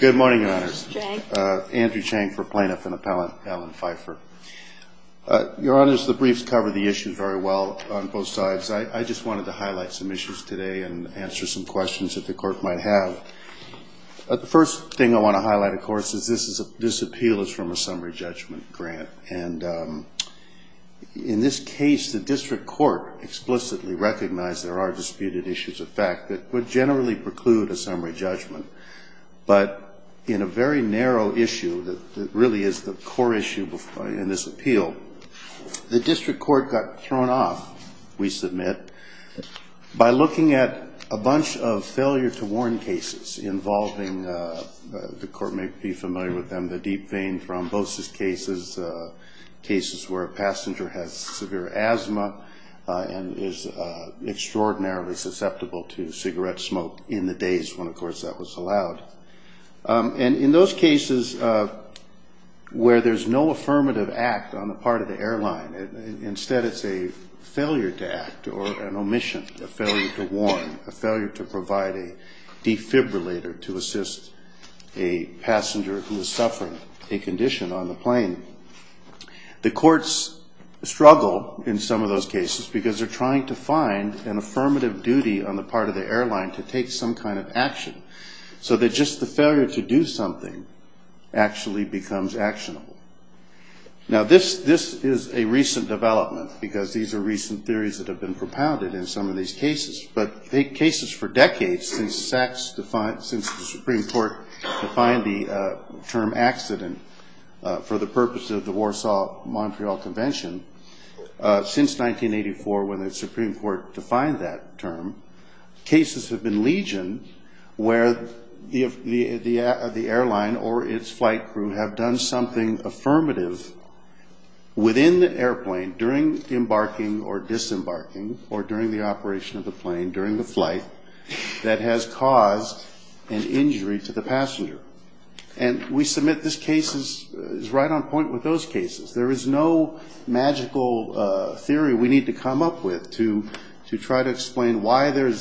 Good morning, Your Honors. Andrew Chang for Plaintiff and Appellant Alan Pfeiffer. Your Honors, the briefs cover the issues very well on both sides. I just wanted to highlight some issues today and answer some questions that the Court might have. The first thing I want to highlight, of course, is this appeal is from a summary judgment grant. And in this case, the district court explicitly recognized there are disputed issues of fact that would generally preclude a summary judgment. But in a very narrow issue that really is the core issue in this appeal, the district court got thrown off, we submit, by looking at a bunch of failure to warn cases involving, the Court may be familiar with them, the deep vein thrombosis cases, cases where a passenger has severe asthma and is extraordinarily susceptible to cigarette smoke in the days when, of course, that was allowed. And in those cases where there's no affirmative act on the part of the airline, instead it's a failure to act or an omission, a failure to warn, a failure to provide a defibrillator to assist a passenger who is suffering a condition on the plane. The courts struggle in some of those cases because they're trying to find an affirmative duty on the part of the airline to take some kind of action so that just the failure to do something actually becomes actionable. Now this is a recent development because these are recent theories that have been propounded in some of these cases. But cases for decades, since the Supreme Court defined the term accident for the purpose of the Warsaw Montreal Convention, since 1984 when the Supreme Court defined that term, cases have been legion where the airline or its flight crew have done something affirmative within the airplane during the embarking or disembarking or during the operation of the plane, during the flight, that has caused an injury to the passenger. And we submit this case is right on point with those cases. There is no magical theory we need to come up with to try to explain why there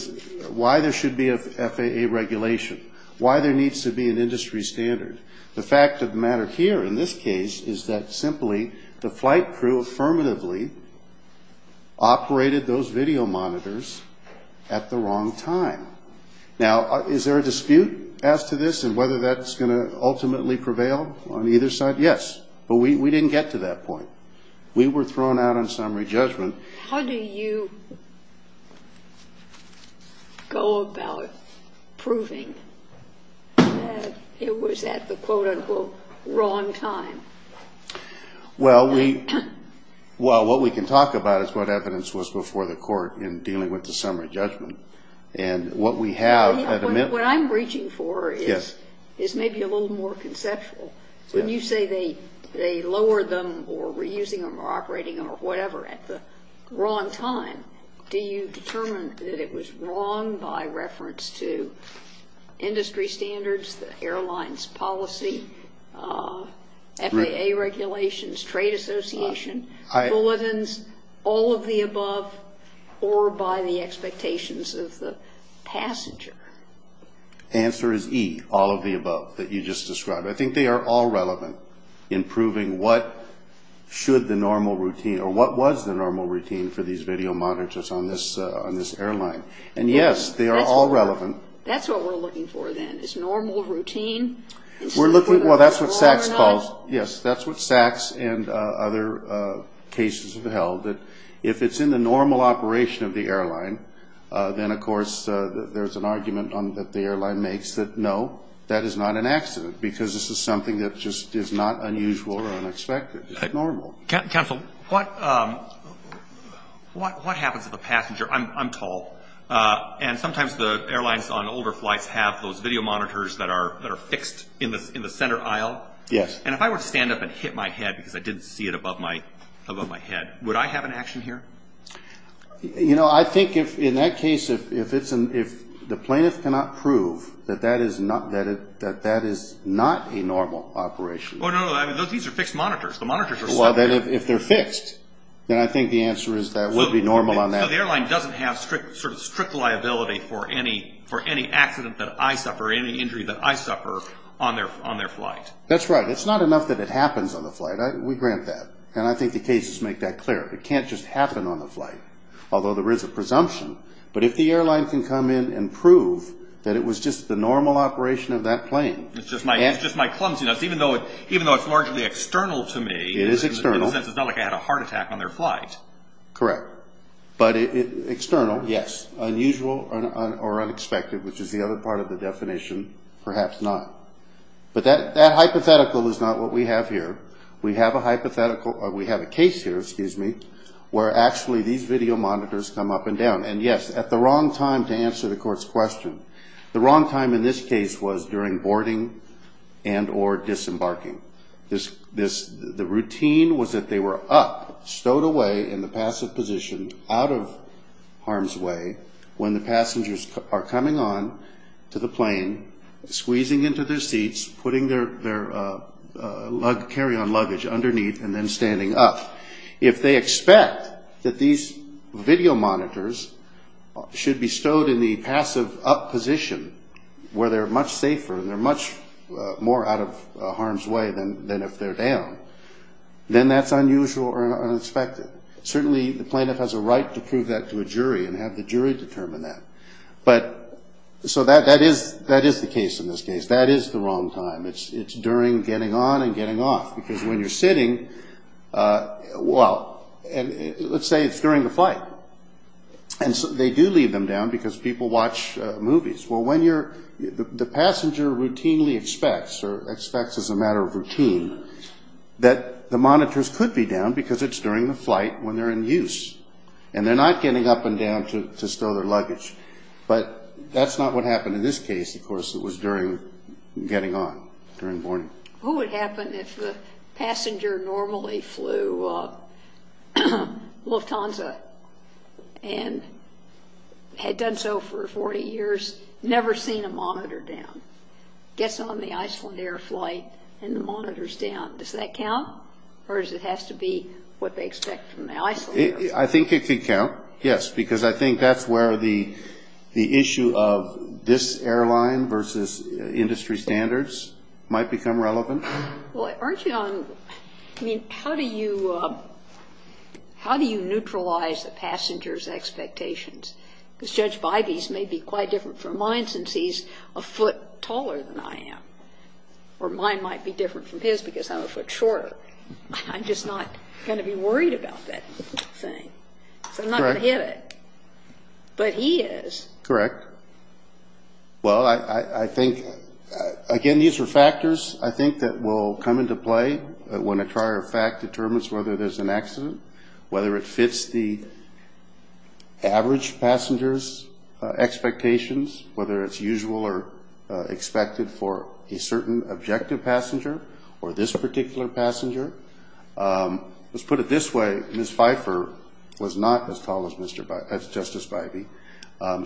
should be a FAA regulation, why there needs to be an industry standard. The fact of the matter here in this case is that simply the flight crew affirmatively operated those video monitors at the wrong time. Now is there a dispute as to this and whether that's going to ultimately prevail on either side? Yes, but we didn't get to that point. We were thrown out on summary judgment. How do you go about proving that it was at the quote unquote wrong time? Well, what we can talk about is what evidence was before the court in dealing with the summary judgment. What I'm reaching for is maybe a little more conceptual. When you say they lowered them or were using them or operating them or whatever at the wrong time, do you determine that it was wrong by reference to industry standards, the airline's policy, FAA regulations, trade association, bulletins, all of the above, or by the expectations of the court? Answer is E, all of the above that you just described. I think they are all relevant in proving what was the normal routine for these video monitors on this airline. And yes, they are all relevant. That's what we're looking for then, is normal routine. Well, that's what SACS calls it. Yes, that's what SACS and other cases have held, that if it's in the normal operation of the airline, then of course there's an argument that the airline makes that, no, that is not an accident, because this is something that just is not unusual or unexpected. It's normal. Counsel, what happens if a passenger, I'm tall, and sometimes the airlines on older flights have those video monitors that are fixed in the center aisle? Yes. And if I were to stand up and hit my head because I didn't see it above my head, would I have an action here? You know, I think in that case, if the plaintiff cannot prove that that is not a normal operation. Oh, no, no, these are fixed monitors. The monitors are separate. Well, if they're fixed, then I think the answer is that would be normal on that. So the airline doesn't have sort of strict liability for any accident that I suffer, any injury that I suffer on their flight. That's right. It's not enough that it happens on the flight. We grant that. And I think the cases make that clear. It can't just happen on the flight, although there is a presumption. But if the airline can come in and prove that it was just the normal operation of that plane. It's just my clumsiness, even though it's largely external to me. It is external. In a sense, it's not like I had a heart attack on their flight. Correct. But external. Yes. Unusual or unexpected, which is the other part of the definition, perhaps not. But that hypothetical is not what we have here. We have a hypothetical, or we have a case here, excuse me, where actually these video monitors come up and down. And, yes, at the wrong time to answer the court's question. The wrong time in this case was during boarding and or disembarking. The routine was that they were up, stowed away in the passive position, out of harm's way when the passengers are coming on to the plane, squeezing into their seats, putting their carry-on luggage underneath, and then standing up. If they expect that these video monitors should be stowed in the passive up position, where they're much safer and they're much more out of harm's way than if they're down, then that's unusual or unexpected. Certainly the plaintiff has a right to prove that to a jury and have the jury determine that. So that is the case in this case. That is the wrong time. It's during getting on and getting off. Because when you're sitting, well, let's say it's during the flight, and they do leave them down because people watch movies. Well, the passenger routinely expects, or expects as a matter of routine, that the monitors could be down because it's during the flight when they're in use, and they're not getting up and down to stow their luggage. But that's not what happened in this case, of course. It was during getting on, during boarding. What would happen if the passenger normally flew Lufthansa and had done so for 40 years, never seen a monitor down, gets on the Icelandair flight and the monitor's down? Does that count, or does it have to be what they expect from the Icelandair flight? I think it could count, yes, because I think that's where the issue of this airline versus industry standards might become relevant. Well, aren't you on, I mean, how do you neutralize the passenger's expectations? Because Judge Bybee's may be quite different from mine since he's a foot taller than I am. Or mine might be different from his because I'm a foot shorter. I'm just not going to be worried about that. So I'm not going to hit it, but he is. Correct. Well, I think, again, these are factors, I think, that will come into play when a prior fact determines whether there's an accident, whether it fits the average passenger's expectations, whether it's usual or expected for a certain objective passenger or this particular passenger. Let's put it this way. Ms. Pfeiffer was not as tall as Justice Bybee.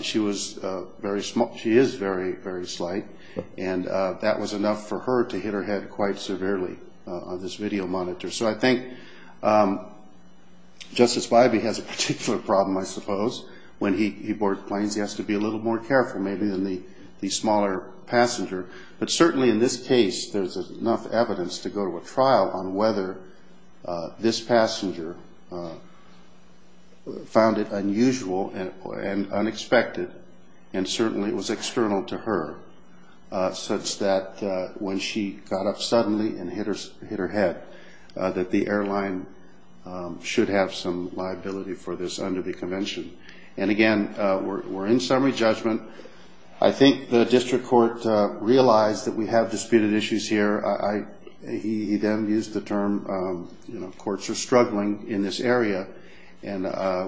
She is very, very slight, and that was enough for her to hit her head quite severely on this video monitor. So I think Justice Bybee has a particular problem, I suppose, when he boards planes. He has to be a little more careful maybe than the smaller passenger. But certainly in this case, there's enough evidence to go to a trial on whether this passenger found it unusual and unexpected, and certainly it was external to her, such that when she got up suddenly and hit her head, that the airline should have some liability for this under the convention. And, again, we're in summary judgment. I think the district court realized that we have disputed issues here. He then used the term, you know, courts are struggling in this area, and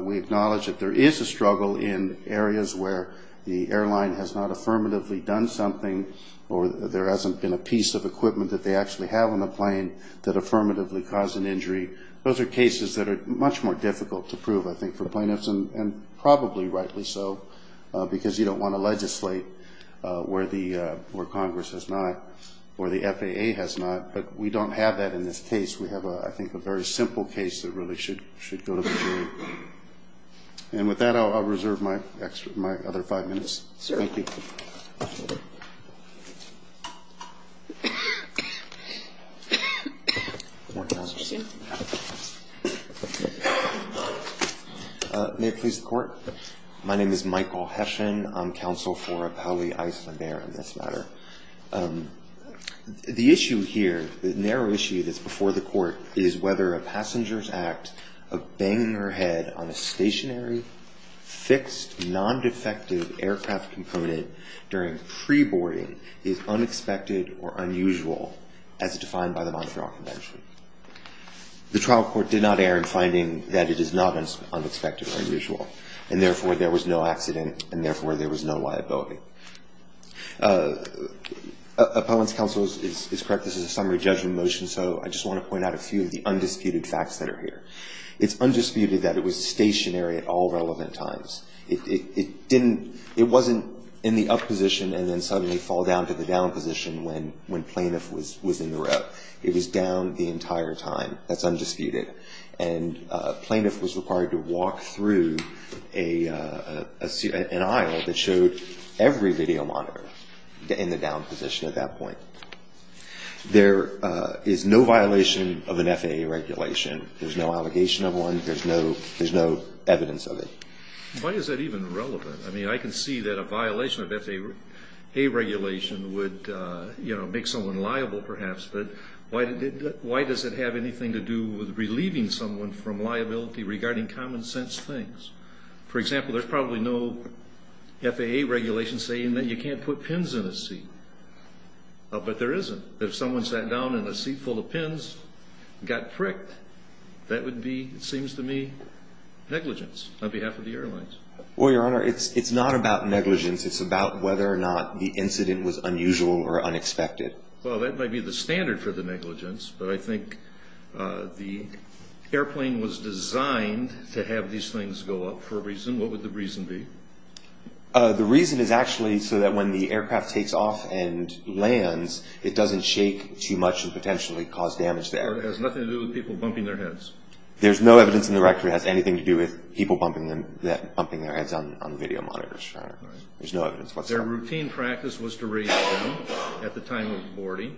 we acknowledge that there is a struggle in areas where the airline has not affirmatively done something or there hasn't been a piece of equipment that they actually have on the plane that affirmatively caused an injury. Those are cases that are much more difficult to prove, I think, for plaintiffs, and probably rightly so, because you don't want to legislate where Congress has not, where the FAA has not, but we don't have that in this case. We have, I think, a very simple case that really should go to the jury. And with that, I'll reserve my other five minutes. Thank you. Thank you. May it please the court? My name is Michael Heshin. I'm counsel for Appali Iceland Air in this matter. The issue here, the narrow issue that's before the court, is whether a passenger's act of banging her head on a stationary, fixed, non-defective aircraft component during pre-boarding is unexpected or unusual, as defined by the Montreal Convention. The trial court did not err in finding that it is not unexpected or unusual, and therefore there was no accident, and therefore there was no liability. Opponents' counsel is correct. This is a summary judgment motion, so I just want to point out a few of the undisputed facts that are here. It's undisputed that it was stationary at all relevant times. It wasn't in the up position and then suddenly fall down to the down position when plaintiff was in the row. It was down the entire time. That's undisputed. And plaintiff was required to walk through an aisle that showed every video monitor in the down position at that point. There is no violation of an FAA regulation. There's no allegation of one. There's no evidence of it. Why is that even relevant? I mean, I can see that a violation of FAA regulation would make someone liable perhaps, but why does it have anything to do with relieving someone from liability regarding common sense things? For example, there's probably no FAA regulation saying that you can't put pins in a seat. But there isn't. If someone sat down in a seat full of pins and got pricked, that would be, it seems to me, negligence on behalf of the airlines. Well, Your Honor, it's not about negligence. It's about whether or not the incident was unusual or unexpected. Well, that might be the standard for the negligence, but I think the airplane was designed to have these things go up for a reason. What would the reason be? The reason is actually so that when the aircraft takes off and lands, it doesn't shake too much and potentially cause damage there. Or it has nothing to do with people bumping their heads. There's no evidence in the record it has anything to do with people bumping their heads on video monitors, Your Honor. There's no evidence whatsoever. Their routine practice was to raise them at the time of boarding.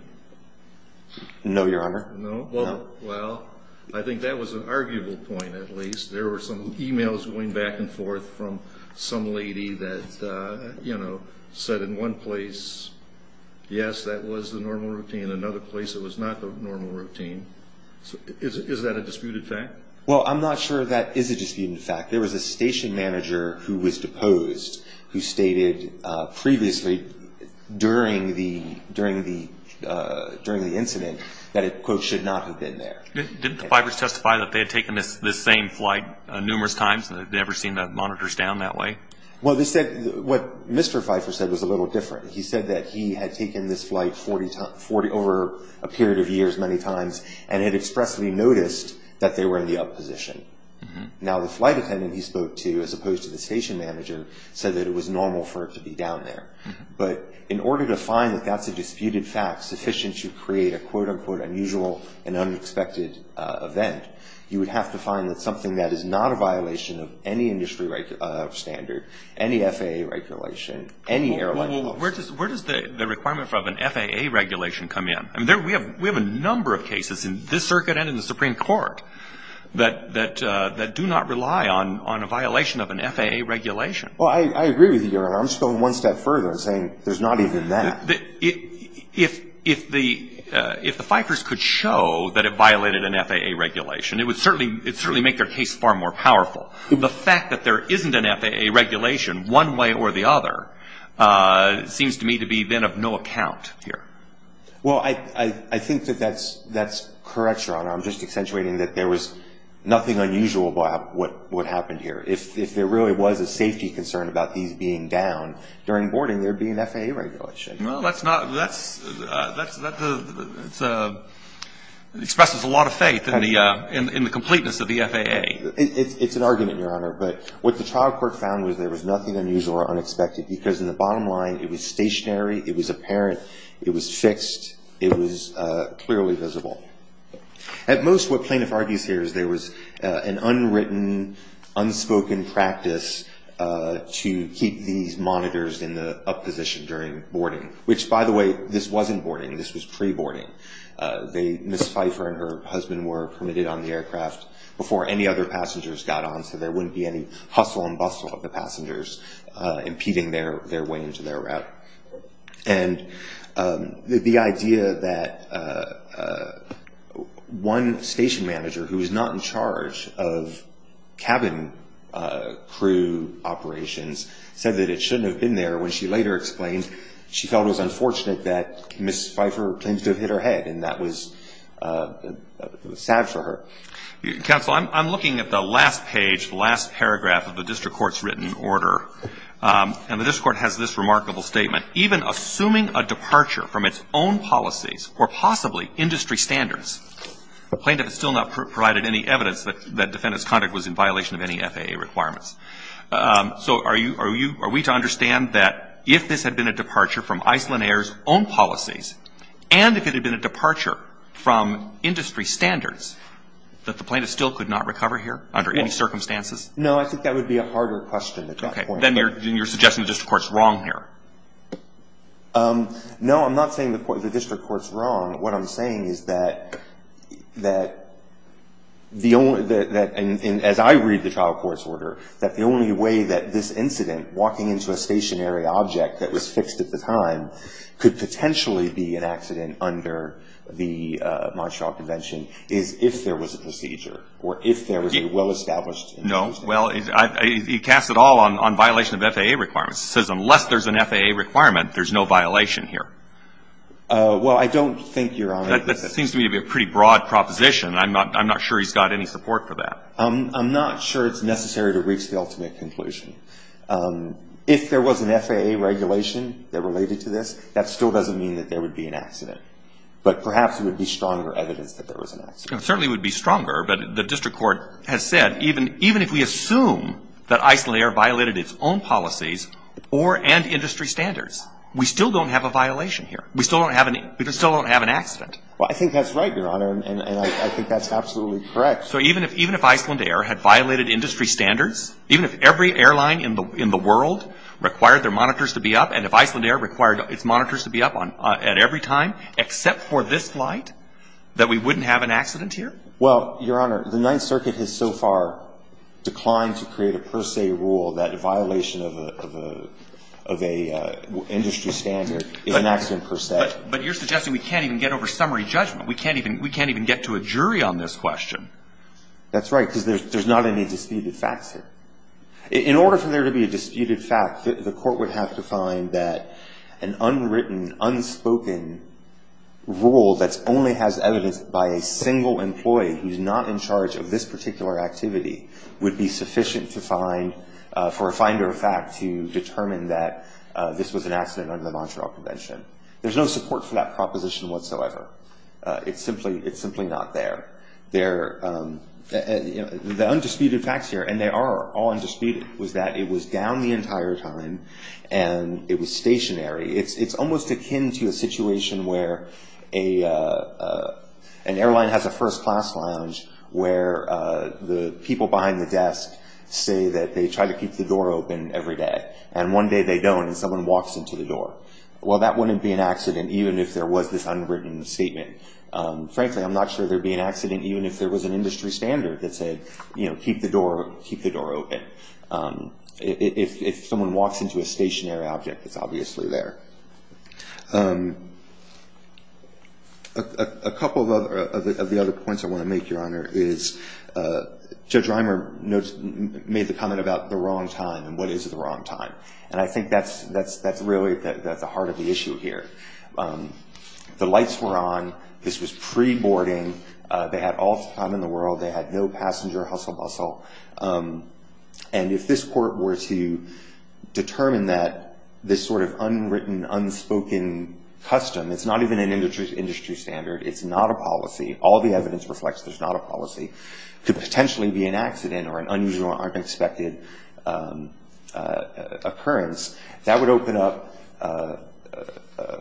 No, Your Honor. No? No. Well, I think that was an arguable point at least. There were some e-mails going back and forth from some lady that, you know, said in one place, yes, that was the normal routine. In another place, it was not the normal routine. Is that a disputed fact? Well, I'm not sure that is a disputed fact. There was a station manager who was deposed who stated previously during the incident that it, quote, should not have been there. Didn't the Pfeiffer's testify that they had taken this same flight numerous times and had never seen the monitors down that way? Well, they said what Mr. Pfeiffer said was a little different. He said that he had taken this flight over a period of years many times and had expressly noticed that they were in the up position. Now, the flight attendant he spoke to, as opposed to the station manager, said that it was normal for it to be down there. But in order to find that that's a disputed fact sufficient to create a, quote, unquote, unusual and unexpected event, you would have to find that something that is not a violation of any industry standard, any FAA regulation, any airline policy. Well, where does the requirement of an FAA regulation come in? I mean, we have a number of cases in this circuit and in the Supreme Court that do not rely on a violation of an FAA regulation. Well, I agree with you, Your Honor. I'm just going one step further and saying there's not even that. If the Pfeiffer's could show that it violated an FAA regulation, it would certainly make their case far more powerful. The fact that there isn't an FAA regulation one way or the other seems to me to be then of no account here. Well, I think that that's correct, Your Honor. I'm just accentuating that there was nothing unusual about what happened here. If there really was a safety concern about these being down during boarding, there would be an FAA regulation. Well, that's not, that's, that's, that's a, expresses a lot of faith in the, in the completeness of the FAA. It's an argument, Your Honor. But what the trial court found was there was nothing unusual or unexpected because in the bottom line it was stationary, it was apparent, it was fixed, it was clearly visible. At most what plaintiff argues here is there was an unwritten, unspoken practice to keep these monitors in the up position during boarding, which, by the way, this wasn't boarding. This was pre-boarding. They, Ms. Pfeiffer and her husband were permitted on the aircraft before any other passengers got on, so there wouldn't be any hustle and bustle of the passengers impeding their, their way into their route. And the idea that one station manager who was not in charge of cabin crew operations said that it shouldn't have been there when she later explained she felt it was unfortunate that Ms. Pfeiffer claimed to have hit her head, and that was sad for her. Counsel, I'm looking at the last page, the last paragraph of the district court's written order, and the district court has this remarkable statement. Even assuming a departure from its own policies or possibly industry standards, the plaintiff has still not provided any evidence that defendant's conduct was in violation of any FAA requirements. So are you, are you, are we to understand that if this had been a departure from Iceland Air's own policies and if it had been a departure from industry standards, that the plaintiff still could not recover here under any circumstances? No, I think that would be a harder question at that point. Okay, then you're, then you're suggesting the district court's wrong here. No, I'm not saying the court, the district court's wrong. What I'm saying is that, that the only, that, and as I read the trial court's order, that the only way that this incident, walking into a stationary object that was fixed at the time, could potentially be an accident under the Montreal Convention is if there was a procedure, or if there was a well-established in the motion. No, well, he casts it all on, on violation of FAA requirements. He says unless there's an FAA requirement, there's no violation here. Well, I don't think you're on it. That seems to me to be a pretty broad proposition. I'm not, I'm not sure he's got any support for that. I'm, I'm not sure it's necessary to reach the ultimate conclusion. If there was an FAA regulation that related to this, that still doesn't mean that there would be an accident. But perhaps it would be stronger evidence that there was an accident. It certainly would be stronger, but the district court has said even, even if we assume that Icelandair violated its own policies or, and industry standards, we still don't have a violation here. We still don't have an, we still don't have an accident. Well, I think that's right, Your Honor, and I think that's absolutely correct. So even if, even if Icelandair had violated industry standards, even if every airline in the, in the world required their monitors to be up, and if Icelandair required its monitors to be up on, at every time, except for this flight, that we wouldn't have an accident here? Well, Your Honor, the Ninth Circuit has so far declined to create a per se rule that a violation of a, of a, of a industry standard is an accident per se. But, but you're suggesting we can't even get over summary judgment. We can't even, we can't even get to a jury on this question. That's right, because there's not any disputed facts here. In order for there to be a disputed fact, the court would have to find that an unwritten, unspoken rule that's only has evidence by a single employee who's not in charge of this particular activity would be sufficient to find, for a finder of fact, to determine that this was an accident under the Montreal Convention. There's no support for that proposition whatsoever. It's simply, it's simply not there. There, the undisputed facts here, and they are all undisputed, was that it was down the entire time and it was stationary. It's, it's almost akin to a situation where a, a, a, an airline has a first class lounge where the people behind the desk say that they try to keep the door open every day. And one day they don't and someone walks into the door. Well, that wouldn't be an accident even if there was this unwritten statement. Frankly, I'm not sure there'd be an accident even if there was an industry standard that said, you know, keep the door, keep the door open. If, if someone walks into a stationary object, it's obviously there. A, a couple of other, of the other points I want to make, Your Honor, is Judge Reimer notes, made the comment about the wrong time and what is the wrong time. And I think that's, that's, that's really the heart of the issue here. The lights were on, this was pre-boarding, they had all the time in the world, they had no passenger hustle bustle. And if this court were to determine that this sort of unwritten, unspoken custom, it's not even an industry standard, it's not a policy, all the evidence reflects there's not a policy, could potentially be an accident or an unusual or unexpected occurrence, that would open up a, a,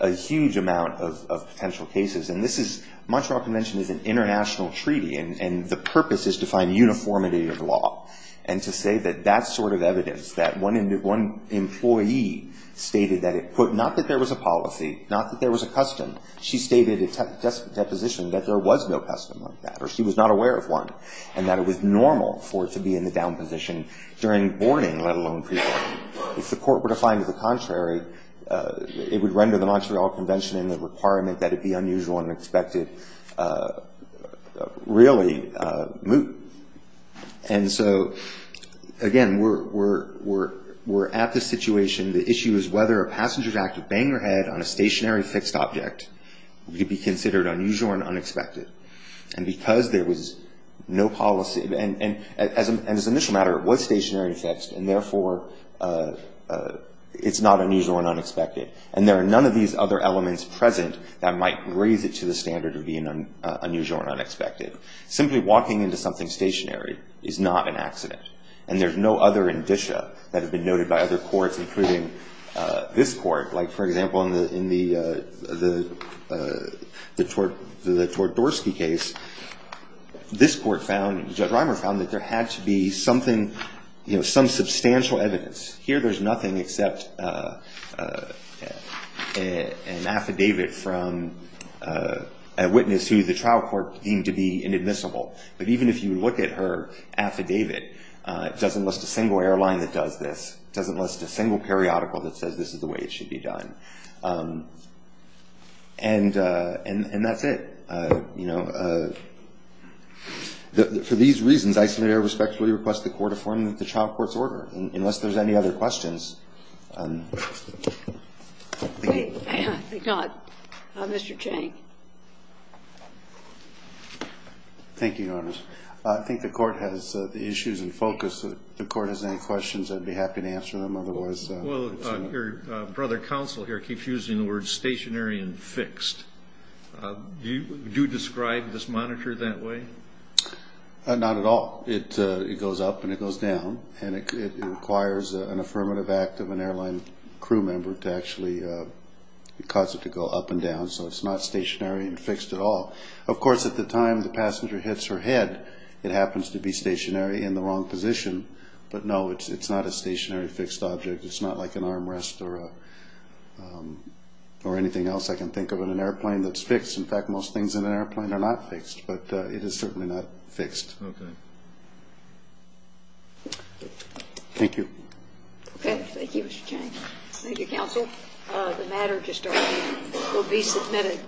a huge amount of, of potential cases. And this is, Montreal Convention is an international treaty, and, and the purpose is to find uniformity of law. And to say that that sort of evidence, that one employee stated that it put, not that there was a policy, not that there was a custom, she stated a deposition that there was no custom like that, or she was not aware of one, and that it was normal for it to be in the down position during boarding, let alone pre-boarding. If the court were to find it the contrary, it would render the Montreal Convention in the requirement that it be unusual and unexpected really moot. And so, again, we're, we're, we're, we're at this situation. The issue is whether a passenger's act of banging her head on a stationary fixed object could be considered unusual and unexpected. And because there was no policy, and, and, as, as an initial matter, it was stationary and fixed, and therefore it's not unusual and unexpected. And there are none of these other elements present that might raise it to the standard of being unusual and unexpected. Simply walking into something stationary is not an accident. And there's no other indicia that have been noted by other courts, including this court. Like, for example, in the, in the, the, the Tordorsky case, this court found, Judge Reimer found, that there had to be something, you know, some substantial evidence. Here there's nothing except an affidavit from a witness who the trial court deemed to be inadmissible. But even if you look at her affidavit, it doesn't list a single airline that does this. It doesn't list a single periodical that says this is the way it should be done. And, and, and that's it. You know, for these reasons, I submitted a respectfully request the court to form the trial court's order. Unless there's any other questions. Thank you. Thank God. Mr. Chang. Thank you, Your Honors. I think the Court has the issues in focus. If the Court has any questions, I'd be happy to answer them. Otherwise, it's a. Well, your brother counsel here keeps using the words stationary and fixed. Do you describe this monitor that way? Not at all. It goes up and it goes down. And it requires an affirmative act of an airline crew member to actually cause it to go up and down. So it's not stationary and fixed at all. Of course, at the time the passenger hits her head, it happens to be stationary in the wrong position. But no, it's not a stationary fixed object. It's not like an armrest or anything else I can think of in an airplane that's fixed. In fact, most things in an airplane are not fixed. But it is certainly not fixed. Okay. Thank you. Okay. Thank you, Mr. Chang. Thank you, counsel. The matter to start will be submitted.